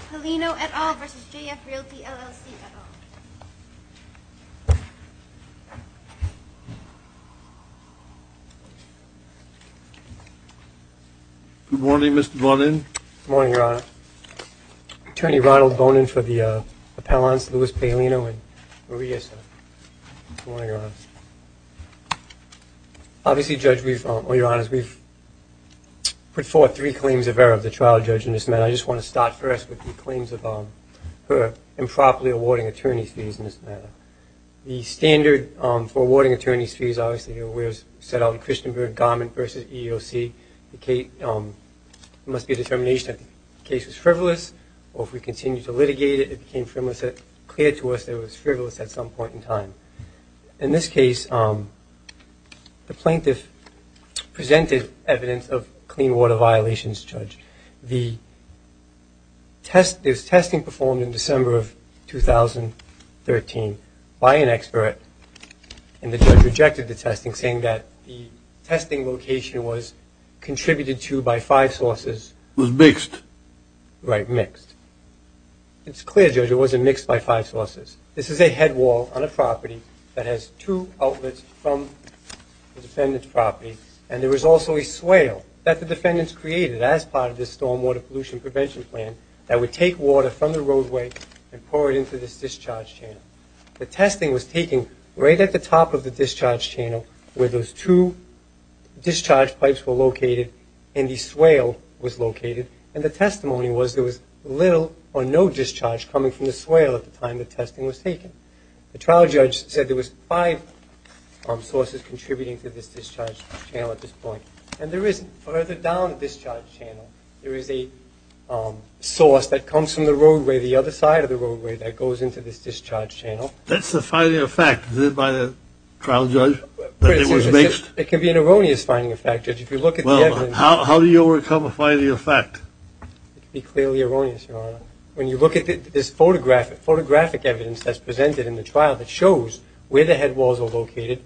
Paulino et al versus JF Realty, LLC et al. Good morning, Mr. Bonin. Good morning, Your Honor. Attorney Ronald Bonin for the appellants, Louis Paolino and Maria. Good morning, Your Honor. Obviously, Judge, we've, well, Your Honor, we've put forth three claims of error of the trial judge in this matter. And I just want to start first with the claims of her improperly awarding attorney's fees in this matter. The standard for awarding attorney's fees, obviously, set out in Christenberg Garment versus EEOC. It must be a determination that the case was frivolous, or if we continue to litigate it, it became clear to us that it was frivolous at some point in time. In this case, the plaintiff presented evidence of clean water violations, Judge. The testing performed in December of 2013 by an expert, and the judge rejected the testing saying that the testing location was contributed to by five sources. It was mixed. Right, mixed. It's clear, Judge, it wasn't mixed by five sources. This is a headwall on a property that has two outlets from the defendant's property, and there was also a swale that the defendants created as part of this stormwater pollution prevention plan that would take water from the roadway and pour it into this discharge channel. The testing was taken right at the top of the discharge channel where those two discharge pipes were located and the swale was located, and the testimony was there was little or no discharge coming from the swale at the time the testing was taken. The trial judge said there was five sources contributing to this discharge channel at this point, and there is, further down the discharge channel, there is a source that comes from the roadway, the other side of the roadway, that goes into this discharge channel. That's the finding of fact. Is it by the trial judge that it was mixed? It can be an erroneous finding of fact, Judge. If you look at the evidence. Well, how do you overcome a finding of fact? It can be clearly erroneous, Your Honor. When you look at this photographic evidence that's presented in the trial that shows where the headwalls are located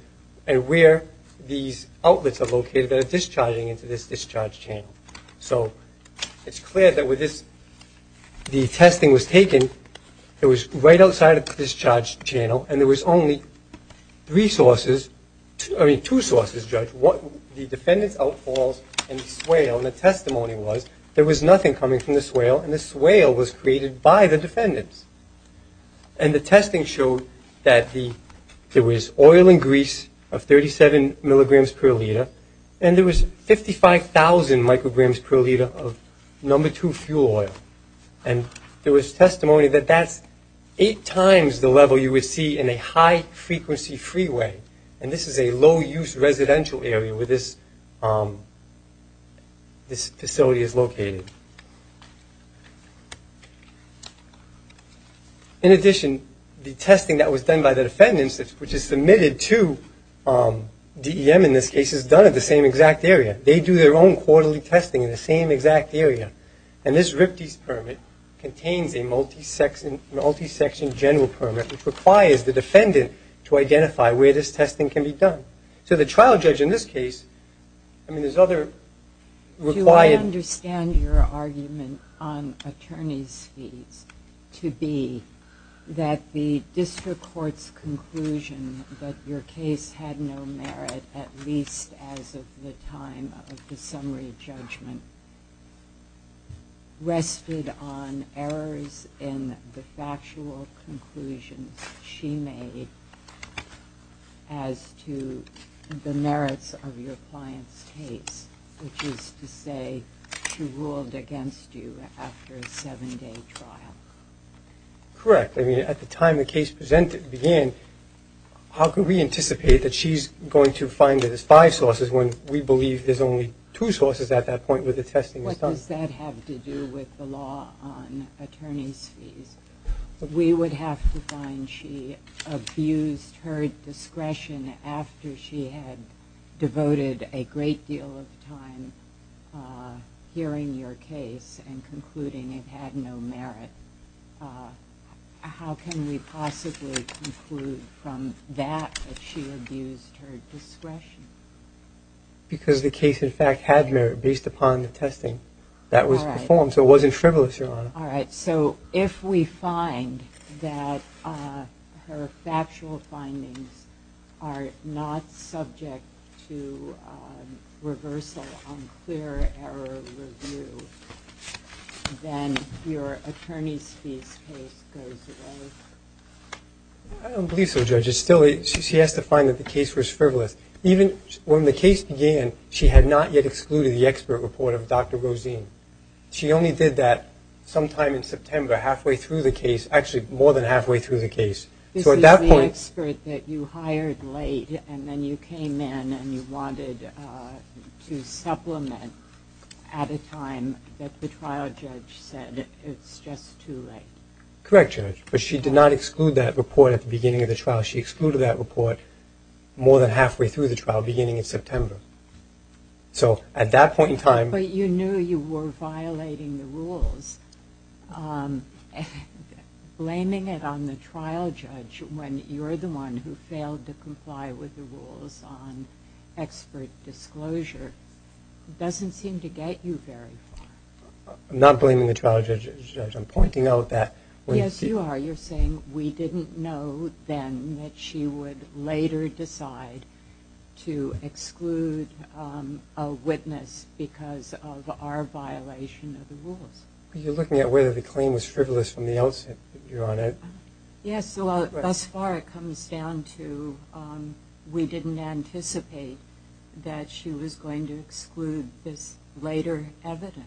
and where these outlets are located that are discharging into this discharge channel. So it's clear that with this, the testing was taken, it was right outside of the discharge channel, and there was only three sources, I mean two sources, Judge. The defendants' outfalls and the swale and the testimony was there was nothing coming from the swale and the swale was created by the defendants. And the testing showed that there was oil and grease of 37 milligrams per liter and there was 55,000 micrograms per liter of number two fuel oil. And there was testimony that that's eight times the level you would see in a high-frequency freeway, and this is a low-use residential area where this facility is located. In addition, the testing that was done by the defendants, which is submitted to DEM in this case, is done at the same exact area. They do their own quarterly testing in the same exact area. And this RIPTES permit contains a multi-section general permit, which requires the defendant to identify where this testing can be done. So the trial judge in this case, I mean there's other required – Do I understand your argument on attorney's fees to be that the district court's conclusion that your case had no merit at least as of the time of the summary judgment rested on errors in the factual conclusions she made as to the merits of your client's case, which is to say she ruled against you after a seven-day trial? Correct. I mean, at the time the case began, how can we anticipate that she's going to find that there's five sources when we believe there's only two sources at that point where the testing is done? What does that have to do with the law on attorney's fees? We would have to find she abused her discretion after she had devoted a great deal of time hearing your case and concluding it had no merit. How can we possibly conclude from that that she abused her discretion? Because the case in fact had merit based upon the testing that was performed, All right. So if we find that her factual findings are not subject to reversal on clear error review, then your attorney's fees case goes away? I don't believe so, Judge. She has to find that the case was frivolous. Even when the case began, she had not yet excluded the expert report of Dr. Rosene. She only did that sometime in September, halfway through the case. Actually, more than halfway through the case. This is the expert that you hired late and then you came in and you wanted to supplement at a time that the trial judge said it's just too late. Correct, Judge. But she did not exclude that report at the beginning of the trial. She excluded that report more than halfway through the trial, beginning in September. So at that point in time... But you knew you were violating the rules. Blaming it on the trial judge when you're the one who failed to comply with the rules on expert disclosure doesn't seem to get you very far. I'm not blaming the trial judge. I'm pointing out that... Yes, you are. You're saying we didn't know then that she would later decide to exclude a witness because of our violation of the rules. You're looking at whether the claim was frivolous from the outset, Your Honor. Yes, thus far it comes down to we didn't anticipate that she was going to exclude this later evidence.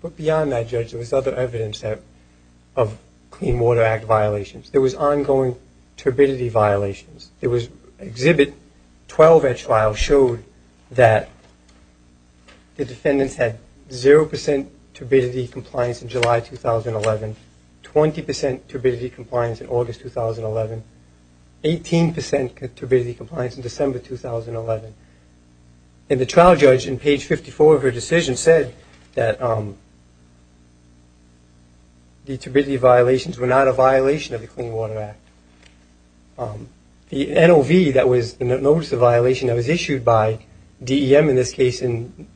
But beyond that, Judge, there was other evidence of Clean Water Act violations. There was ongoing turbidity violations. Exhibit 12 at trial showed that the defendants had 0 percent turbidity compliance in July 2011, 20 percent turbidity compliance in August 2011, 18 percent turbidity compliance in December 2011. And the trial judge in page 54 of her decision said that the turbidity violations were not a violation of the Clean Water Act. The NOV that was the notice of violation that was issued by DEM in this case in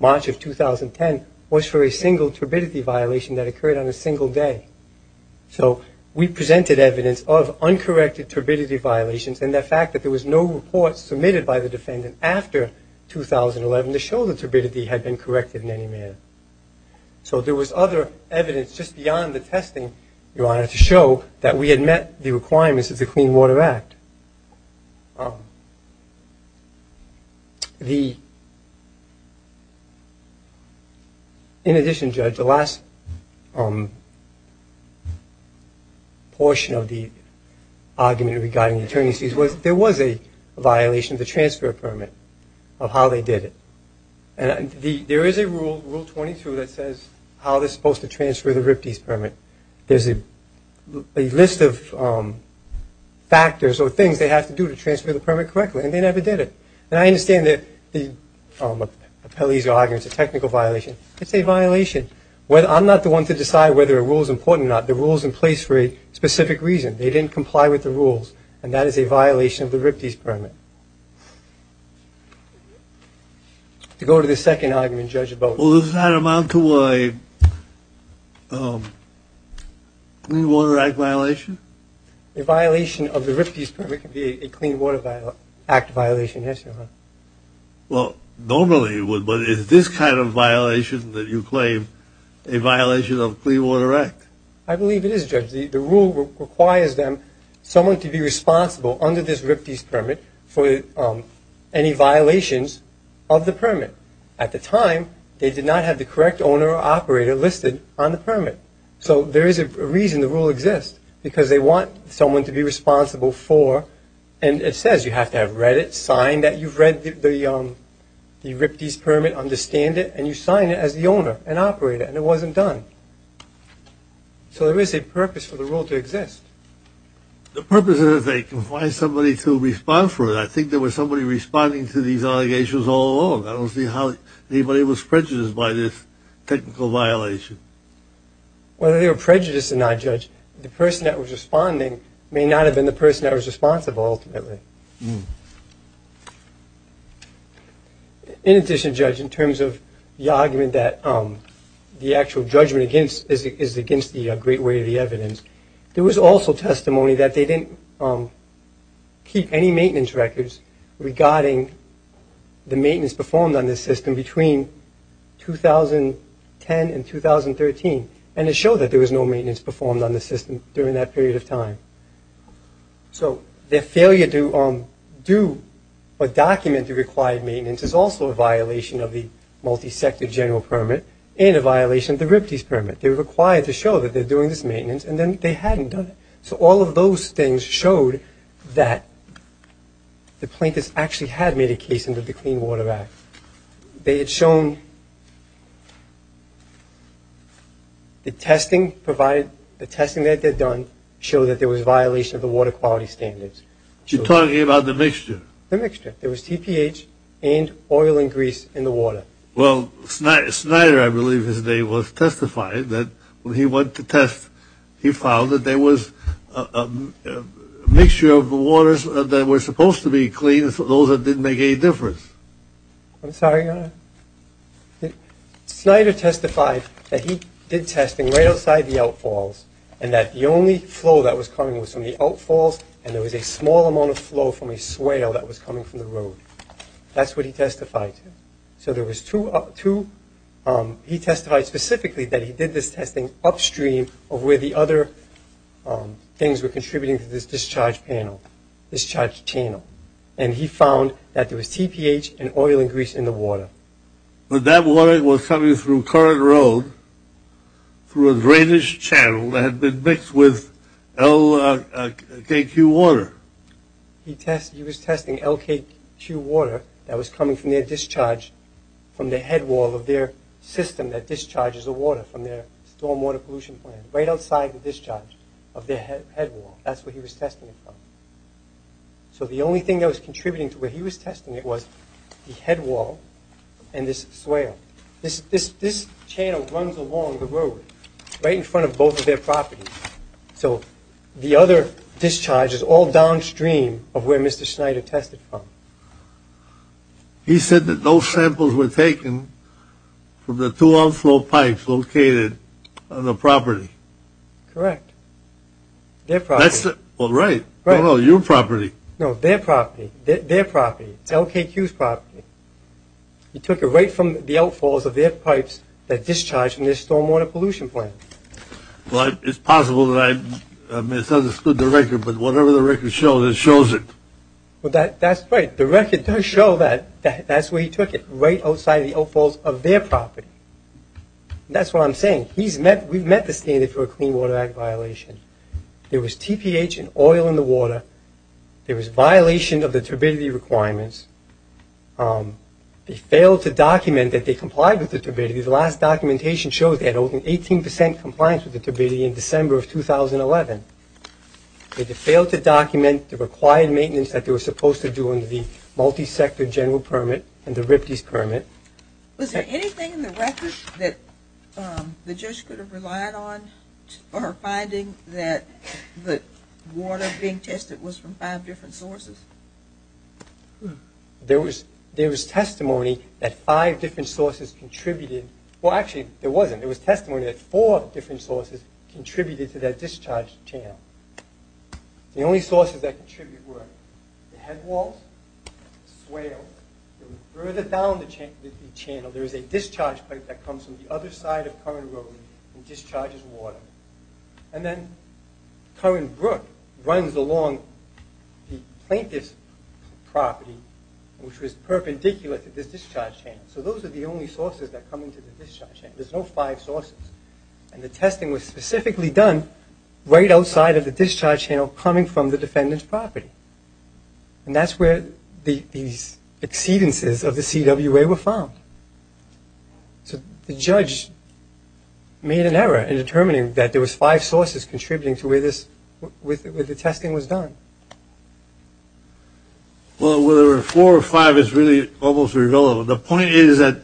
March of 2010 was for a single turbidity violation that occurred on a single day. So we presented evidence of uncorrected turbidity violations and the fact that there was no report submitted by the defendant after 2011 to show the turbidity had been corrected in any manner. So there was other evidence just beyond the testing, Your Honor, to show that we had met the requirements of the Clean Water Act. In addition, Judge, the last portion of the argument regarding the attorneys' fees was there was a violation of the transfer permit of how they did it. And there is a rule, Rule 22, that says how they're supposed to transfer the RIPTES permit. There's a list of factors or things they have to do to transfer the permit correctly, and they never did it. And I understand that the appellee's argument is a technical violation. It's a violation. I'm not the one to decide whether a rule is important or not. The rule is in place for a specific reason. They didn't comply with the rules, and that is a violation of the RIPTES permit. To go to the second argument, Judge, about – Clean Water Act violation? A violation of the RIPTES permit can be a Clean Water Act violation, yes, Your Honor. Well, normally it would, but is this kind of violation that you claim a violation of the Clean Water Act? I believe it is, Judge. The rule requires them – someone to be responsible under this RIPTES permit for any violations of the permit. At the time, they did not have the correct owner or operator listed on the permit. So there is a reason the rule exists, because they want someone to be responsible for – and it says you have to have read it, signed that you've read the RIPTES permit, understand it, and you sign it as the owner and operator, and it wasn't done. So there is a purpose for the rule to exist. The purpose is that they can find somebody to respond for it. I think there was somebody responding to these allegations all along. I don't see how anybody was prejudiced by this technical violation. Whether they were prejudiced or not, Judge, the person that was responding may not have been the person that was responsible ultimately. In addition, Judge, in terms of the argument that the actual judgment is against the great weight of the evidence, there was also testimony that they didn't keep any maintenance records regarding the maintenance performed on this system between 2010 and 2013, and it showed that there was no maintenance performed on the system during that period of time. So their failure to do or document the required maintenance is also a violation of the multi-sector general permit and a violation of the RIPTES permit. They were required to show that they were doing this maintenance, and then they hadn't done it. So all of those things showed that the plaintiffs actually had made a case under the Clean Water Act. They had shown the testing provided, the testing that they had done, showed that there was a violation of the water quality standards. You're talking about the mixture. The mixture. There was TPH and oil and grease in the water. Well, Snyder, I believe his name was, testified that when he went to test, he found that there was a mixture of waters that were supposed to be clean, those that didn't make any difference. I'm sorry, Your Honor. Snyder testified that he did testing right outside the outfalls, and that the only flow that was coming was from the outfalls, and there was a small amount of flow from a swale that was coming from the road. That's what he testified to. So there was two, he testified specifically that he did this testing upstream of where the other things were contributing to this discharge panel, discharge channel, and he found that there was TPH and oil and grease in the water. But that water was coming through current road through a drainage channel that had been mixed with LKQ water. He was testing LKQ water that was coming from their discharge from the headwall of their system that discharges the water from their stormwater pollution plant, right outside the discharge of their headwall. That's what he was testing it from. So the only thing that was contributing to where he was testing it was the headwall and this swale. This channel runs along the road, right in front of both of their properties. So the other discharge is all downstream of where Mr. Schneider tested from. He said that those samples were taken from the two outflow pipes located on the property. Correct. Their property. Well, right. No, no, your property. No, their property. Their property. It's LKQ's property. He took it right from the outfalls of their pipes that discharged from their stormwater pollution plant. Well, it's possible that I misunderstood the record, but whatever the record shows, it shows it. Well, that's right. The record does show that that's where he took it, right outside the outfalls of their property. That's what I'm saying. We've met the standard for a Clean Water Act violation. There was TPH and oil in the water. There was violation of the turbidity requirements. They failed to document that they complied with the turbidity. The last documentation shows they had 18 percent compliance with the turbidity in December of 2011. They failed to document the required maintenance that they were supposed to do under the multi-sector general permit and the RIPTES permit. Was there anything in the record that the judge could have relied on for her finding that the water being tested was from five different sources? There was testimony that five different sources contributed. Well, actually, there wasn't. There was testimony that four different sources contributed to that discharge channel. The only sources that contributed were the headwalls, swales. Further down the channel, there is a discharge pipe that comes from the other side of Curran Road and discharges water. And then Curran Brook runs along the plaintiff's property, which was perpendicular to this discharge channel. So those are the only sources that come into the discharge channel. There's no five sources. And the testing was specifically done right outside of the discharge channel coming from the defendant's property. And that's where these exceedances of the CWA were found. So the judge made an error in determining that there was five sources contributing to where the testing was done. Well, whether there were four or five is really almost irrelevant. The point is that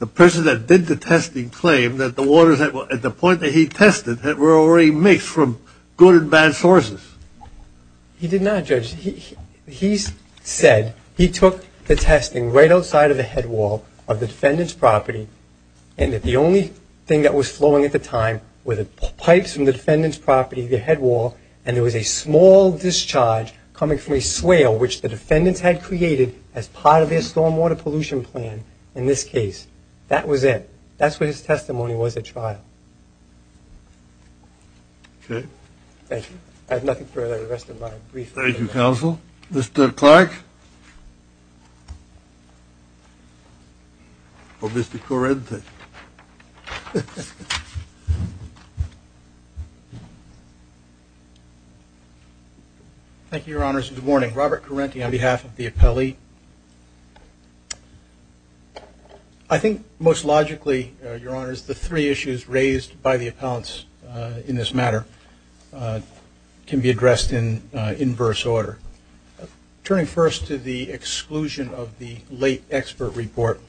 the person that did the testing claimed that the waters at the point that he tested were already mixed from good and bad sources. He did not, Judge. He said he took the testing right outside of the headwall of the defendant's property and that the only thing that was flowing at the time were the pipes from the defendant's property, the headwall, and there was a small discharge coming from a swale, which the defendants had created as part of their stormwater pollution plan in this case. That was it. That's what his testimony was at trial. Okay. Thank you. I have nothing further. The rest of my brief. Thank you, Counsel. Mr. Clark? Or Mr. Corente? Thank you, Your Honors. Good morning. Robert Corente on behalf of the appellee. I think most logically, Your Honors, the three issues raised by the appellants in this matter can be addressed in inverse order. Turning first to the exclusion of the late expert report,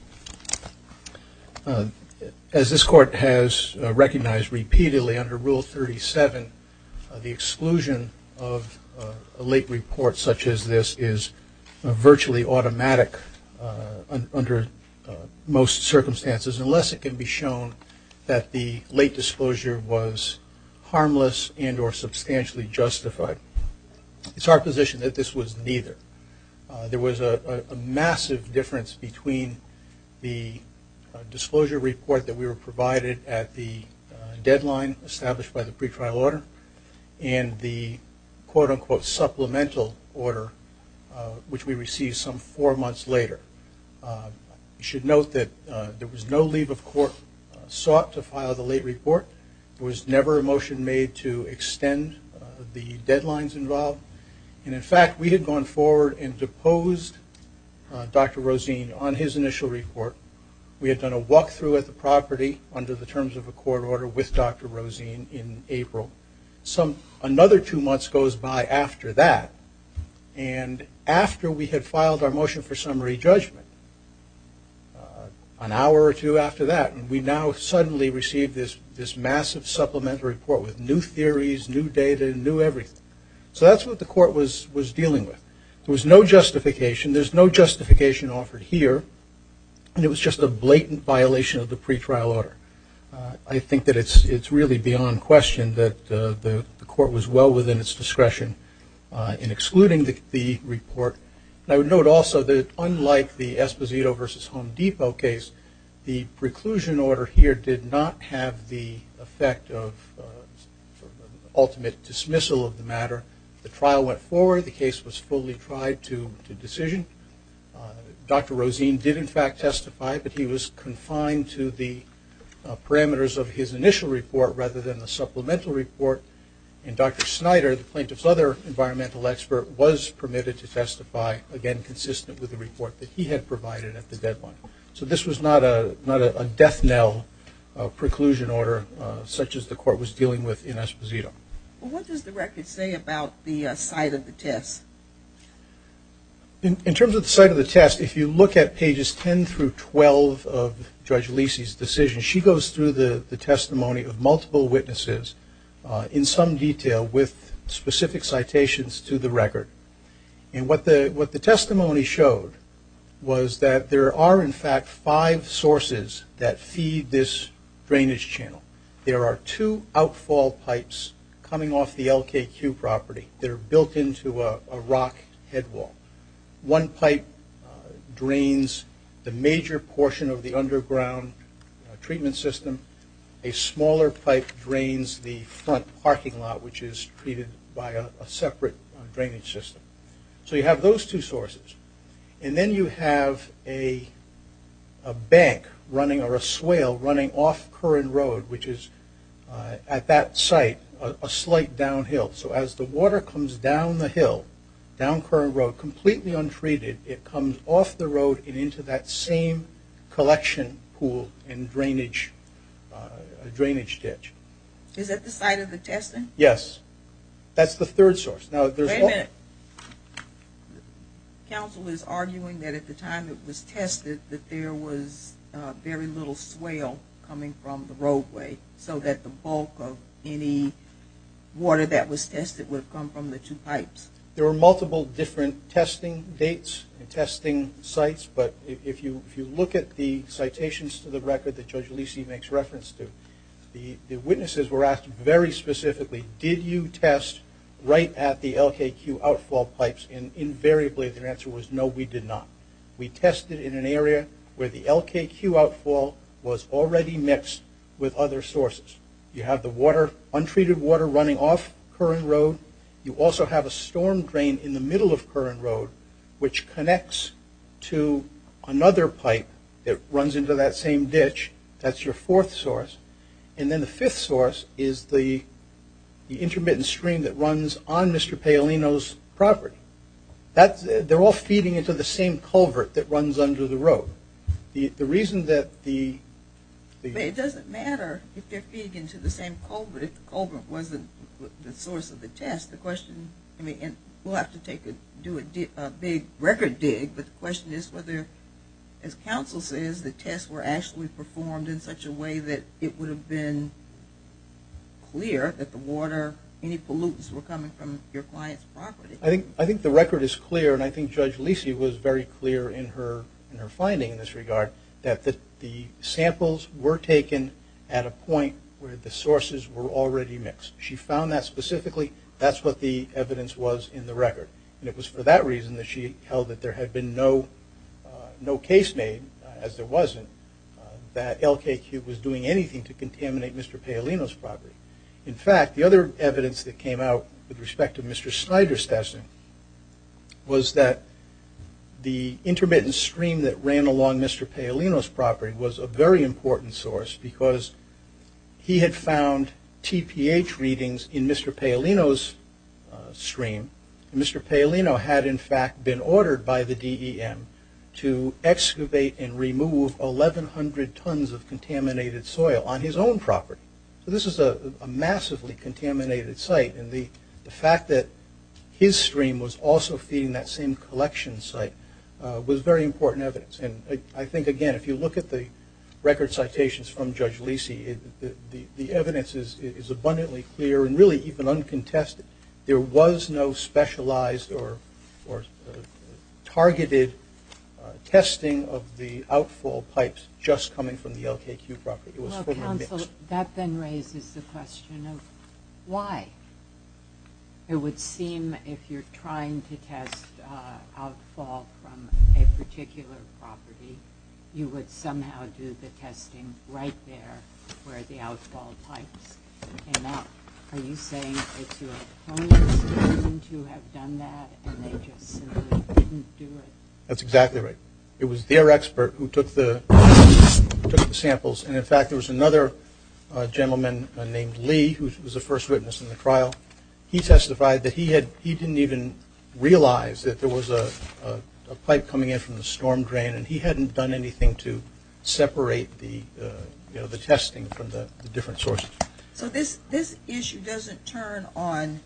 as this Court has recognized repeatedly under Rule 37, the exclusion of a late report such as this is virtually automatic under most circumstances, unless it can be shown that the late disclosure was harmless and or substantially justified. It's our position that this was neither. There was a massive difference between the disclosure report that we were provided at the deadline established by the pretrial order and the quote-unquote supplemental order, which we received some four months later. You should note that there was no leave of court sought to file the late report. There was never a motion made to extend the deadlines involved. And, in fact, we had gone forward and deposed Dr. Rosene on his initial report. We had done a walk-through at the property under the terms of a court order with Dr. Rosene in April. Another two months goes by after that. And after we had filed our motion for summary judgment, an hour or two after that, we now suddenly received this massive supplemental report with new theories, new data, new everything. So that's what the Court was dealing with. There was no justification. There's no justification offered here, and it was just a blatant violation of the pretrial order. I think that it's really beyond question that the Court was well within its discretion in excluding the report. And I would note also that, unlike the Esposito v. Home Depot case, the preclusion order here did not have the effect of ultimate dismissal of the matter. The trial went forward. The case was fully tried to decision. Dr. Rosene did, in fact, testify, but he was confined to the parameters of his initial report rather than the supplemental report. And Dr. Snyder, the plaintiff's other environmental expert, was permitted to testify, again, consistent with the report that he had provided at the deadline. So this was not a death knell preclusion order such as the Court was dealing with in Esposito. Well, what does the record say about the site of the test? In terms of the site of the test, if you look at pages 10 through 12 of Judge Lisi's decision, she goes through the testimony of multiple witnesses in some detail with specific citations to the record. And what the testimony showed was that there are, in fact, five sources that feed this drainage channel. There are two outfall pipes coming off the LKQ property that are built into a rock headwall. One pipe drains the major portion of the underground treatment system. A smaller pipe drains the front parking lot, which is treated by a separate drainage system. So you have those two sources. And then you have a bank or a swale running off Curran Road, which is at that site, a slight downhill. So as the water comes down the hill, down Curran Road, completely untreated, it comes off the road and into that same collection pool and drainage ditch. Is that the site of the testing? Yes. That's the third source. Wait a minute. Counsel is arguing that at the time it was tested that there was very little swale coming from the roadway so that the bulk of any water that was tested would have come from the two pipes. There were multiple different testing dates and testing sites, but if you look at the citations to the record that Judge Lisi makes reference to, the witnesses were asked very specifically, did you test right at the LKQ outfall pipes? And invariably their answer was no, we did not. We tested in an area where the LKQ outfall was already mixed with other sources. You have the untreated water running off Curran Road. You also have a storm drain in the middle of Curran Road, which connects to another pipe that runs into that same ditch. That's your fourth source. And then the fifth source is the intermittent stream that runs on Mr. Paolino's property. They're all feeding into the same culvert that runs under the road. The reason that the... It doesn't matter if they're feeding into the same culvert if the culvert wasn't the source of the test. The question, I mean, we'll have to do a big record dig, but the question is whether, as counsel says, the tests were actually performed in such a way that it would have been clear that the water, any pollutants were coming from your client's property. I think the record is clear, and I think Judge Lisi was very clear in her finding in this regard, that the samples were taken at a point where the sources were already mixed. She found that specifically. That's what the evidence was in the record. And it was for that reason that she held that there had been no case made, as there wasn't, that LKQ was doing anything to contaminate Mr. Paolino's property. In fact, the other evidence that came out with respect to Mr. Snyder's testing was that the intermittent stream that ran along Mr. Paolino's property was a very important source because he had found TPH readings in Mr. Paolino's stream. Mr. Paolino had, in fact, been ordered by the DEM to excavate and remove 1,100 tons of contaminated soil on his own property. So this is a massively contaminated site, and the fact that his stream was also feeding that same collection site was very important evidence. And I think, again, if you look at the record citations from Judge Lisi, the evidence is abundantly clear and really even uncontested. There was no specialized or targeted testing of the outfall pipes just coming from the LKQ property. Well, counsel, that then raises the question of why. It would seem if you're trying to test outfall from a particular property, you would somehow do the testing right there where the outfall pipes came out. Are you saying it's your opponent's doing to have done that, and they just simply didn't do it? That's exactly right. It was their expert who took the samples. And, in fact, there was another gentleman named Lee who was a first witness in the trial. He testified that he didn't even realize that there was a pipe coming in from the storm drain, and he hadn't done anything to separate the testing from the different sources. So this issue doesn't turn on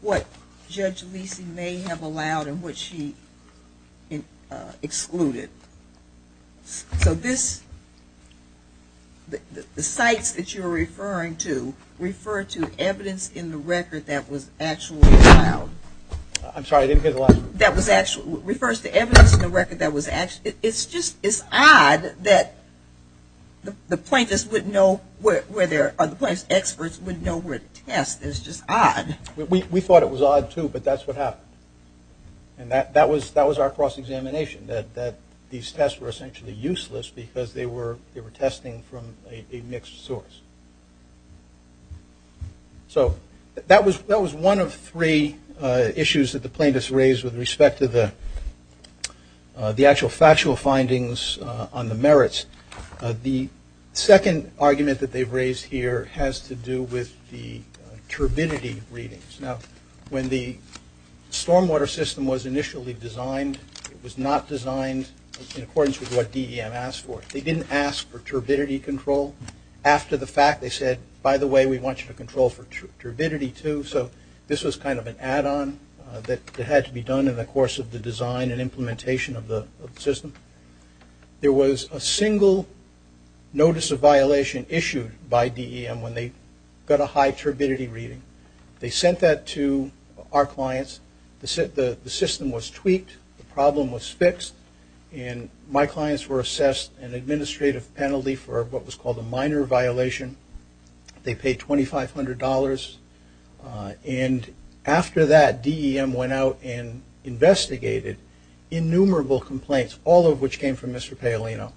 what Judge Lisi may have allowed and what she excluded. So this, the sites that you're referring to, refer to evidence in the record that was actually allowed. I'm sorry, I didn't hear the last part. That was actually, refers to evidence in the record that was actually, it's just, it's odd that the plaintiffs wouldn't know where there, or the plaintiffs' experts wouldn't know where to test. It's just odd. We thought it was odd, too, but that's what happened. And that was our cross-examination, that these tests were essentially useless because they were testing from a mixed source. So that was one of three issues that the plaintiffs raised with respect to the actual factual findings on the merits. The second argument that they've raised here has to do with the turbidity readings. Now, when the stormwater system was initially designed, it was not designed in accordance with what DEM asked for. They didn't ask for turbidity control. After the fact, they said, by the way, we want you to control for turbidity, too. So this was kind of an add-on that had to be done in the course of the design and implementation of the system. There was a single notice of violation issued by DEM when they got a high turbidity reading. They sent that to our clients. The system was tweaked. The problem was fixed. And my clients were assessed an administrative penalty for what was called a minor violation. They paid $2,500. And after that, DEM went out and investigated innumerable complaints, all of which came from Mr. Paolino,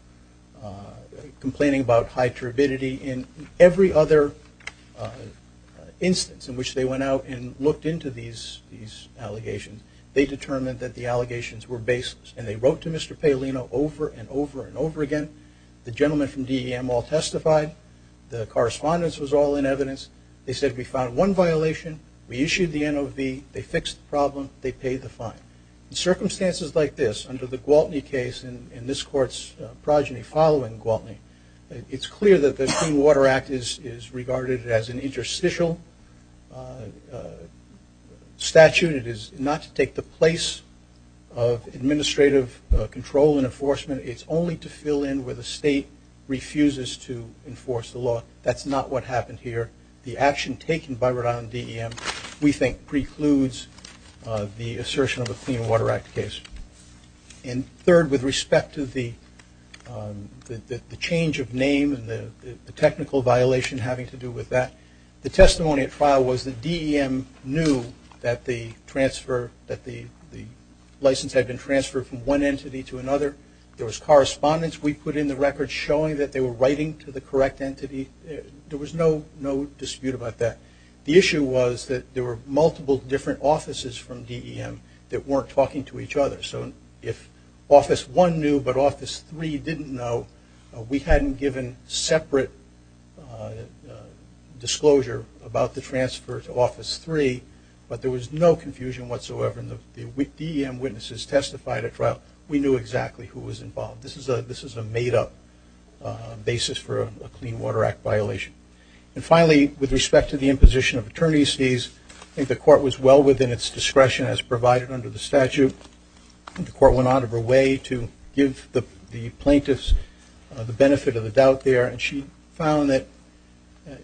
complaining about high turbidity. In every other instance in which they went out and looked into these allegations, they determined that the allegations were baseless. And they wrote to Mr. Paolino over and over and over again. The gentleman from DEM all testified. The correspondence was all in evidence. They said, we found one violation. We issued the NOV. They fixed the problem. They paid the fine. Circumstances like this, under the Gwaltney case and this court's progeny following Gwaltney, it's clear that the Clean Water Act is regarded as an interstitial statute. It is not to take the place of administrative control and enforcement. It's only to fill in where the state refuses to enforce the law. That's not what happened here. The action taken by Rhode Island DEM, we think, precludes the assertion of a Clean Water Act case. And third, with respect to the change of name and the technical violation having to do with that, the testimony at trial was that DEM knew that the license had been transferred from one entity to another. There was correspondence we put in the record showing that they were writing to the correct entity. There was no dispute about that. The issue was that there were multiple different offices from DEM that weren't talking to each other. So if Office 1 knew but Office 3 didn't know, we hadn't given separate disclosure about the transfer to Office 3. But there was no confusion whatsoever. And the DEM witnesses testified at trial. We knew exactly who was involved. This is a made-up basis for a Clean Water Act violation. And finally, with respect to the imposition of attorney's fees, I think the court was well within its discretion as provided under the statute. I think the court went out of her way to give the plaintiffs the benefit of the doubt there. And she found that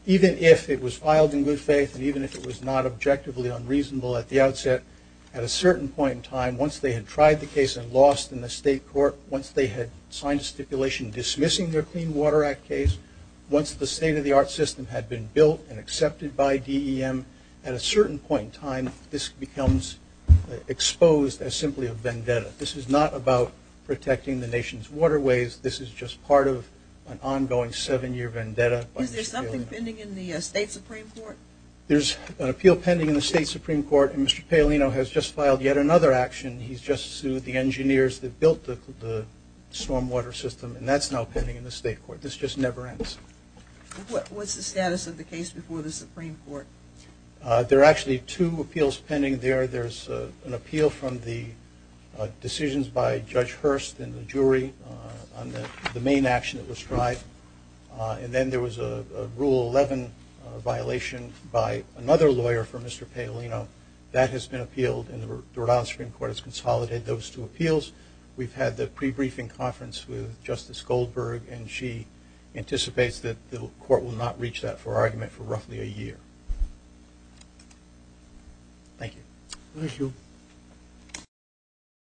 even if it was filed in good faith and even if it was not objectively unreasonable at the outset, at a certain point in time, once they had tried the case and lost in the state court, once they had signed a stipulation dismissing their Clean Water Act case, once the state-of-the-art system had been built and accepted by DEM, at a certain point in time, this becomes exposed as simply a vendetta. This is not about protecting the nation's waterways. This is just part of an ongoing seven-year vendetta. Is there something pending in the State Supreme Court? There's an appeal pending in the State Supreme Court. And Mr. Palino has just filed yet another action. He's just sued the engineers that built the stormwater system. And that's now pending in the state court. This just never ends. What's the status of the case before the Supreme Court? There are actually two appeals pending there. There's an appeal from the decisions by Judge Hurst and the jury on the main action that was tried. And then there was a Rule 11 violation by another lawyer for Mr. Palino. That has been appealed, and the Rhode Island Supreme Court has consolidated those two appeals. We've had the pre-briefing conference with Justice Goldberg, and she anticipates that the court will not reach that argument for roughly a year. Thank you. Thank you.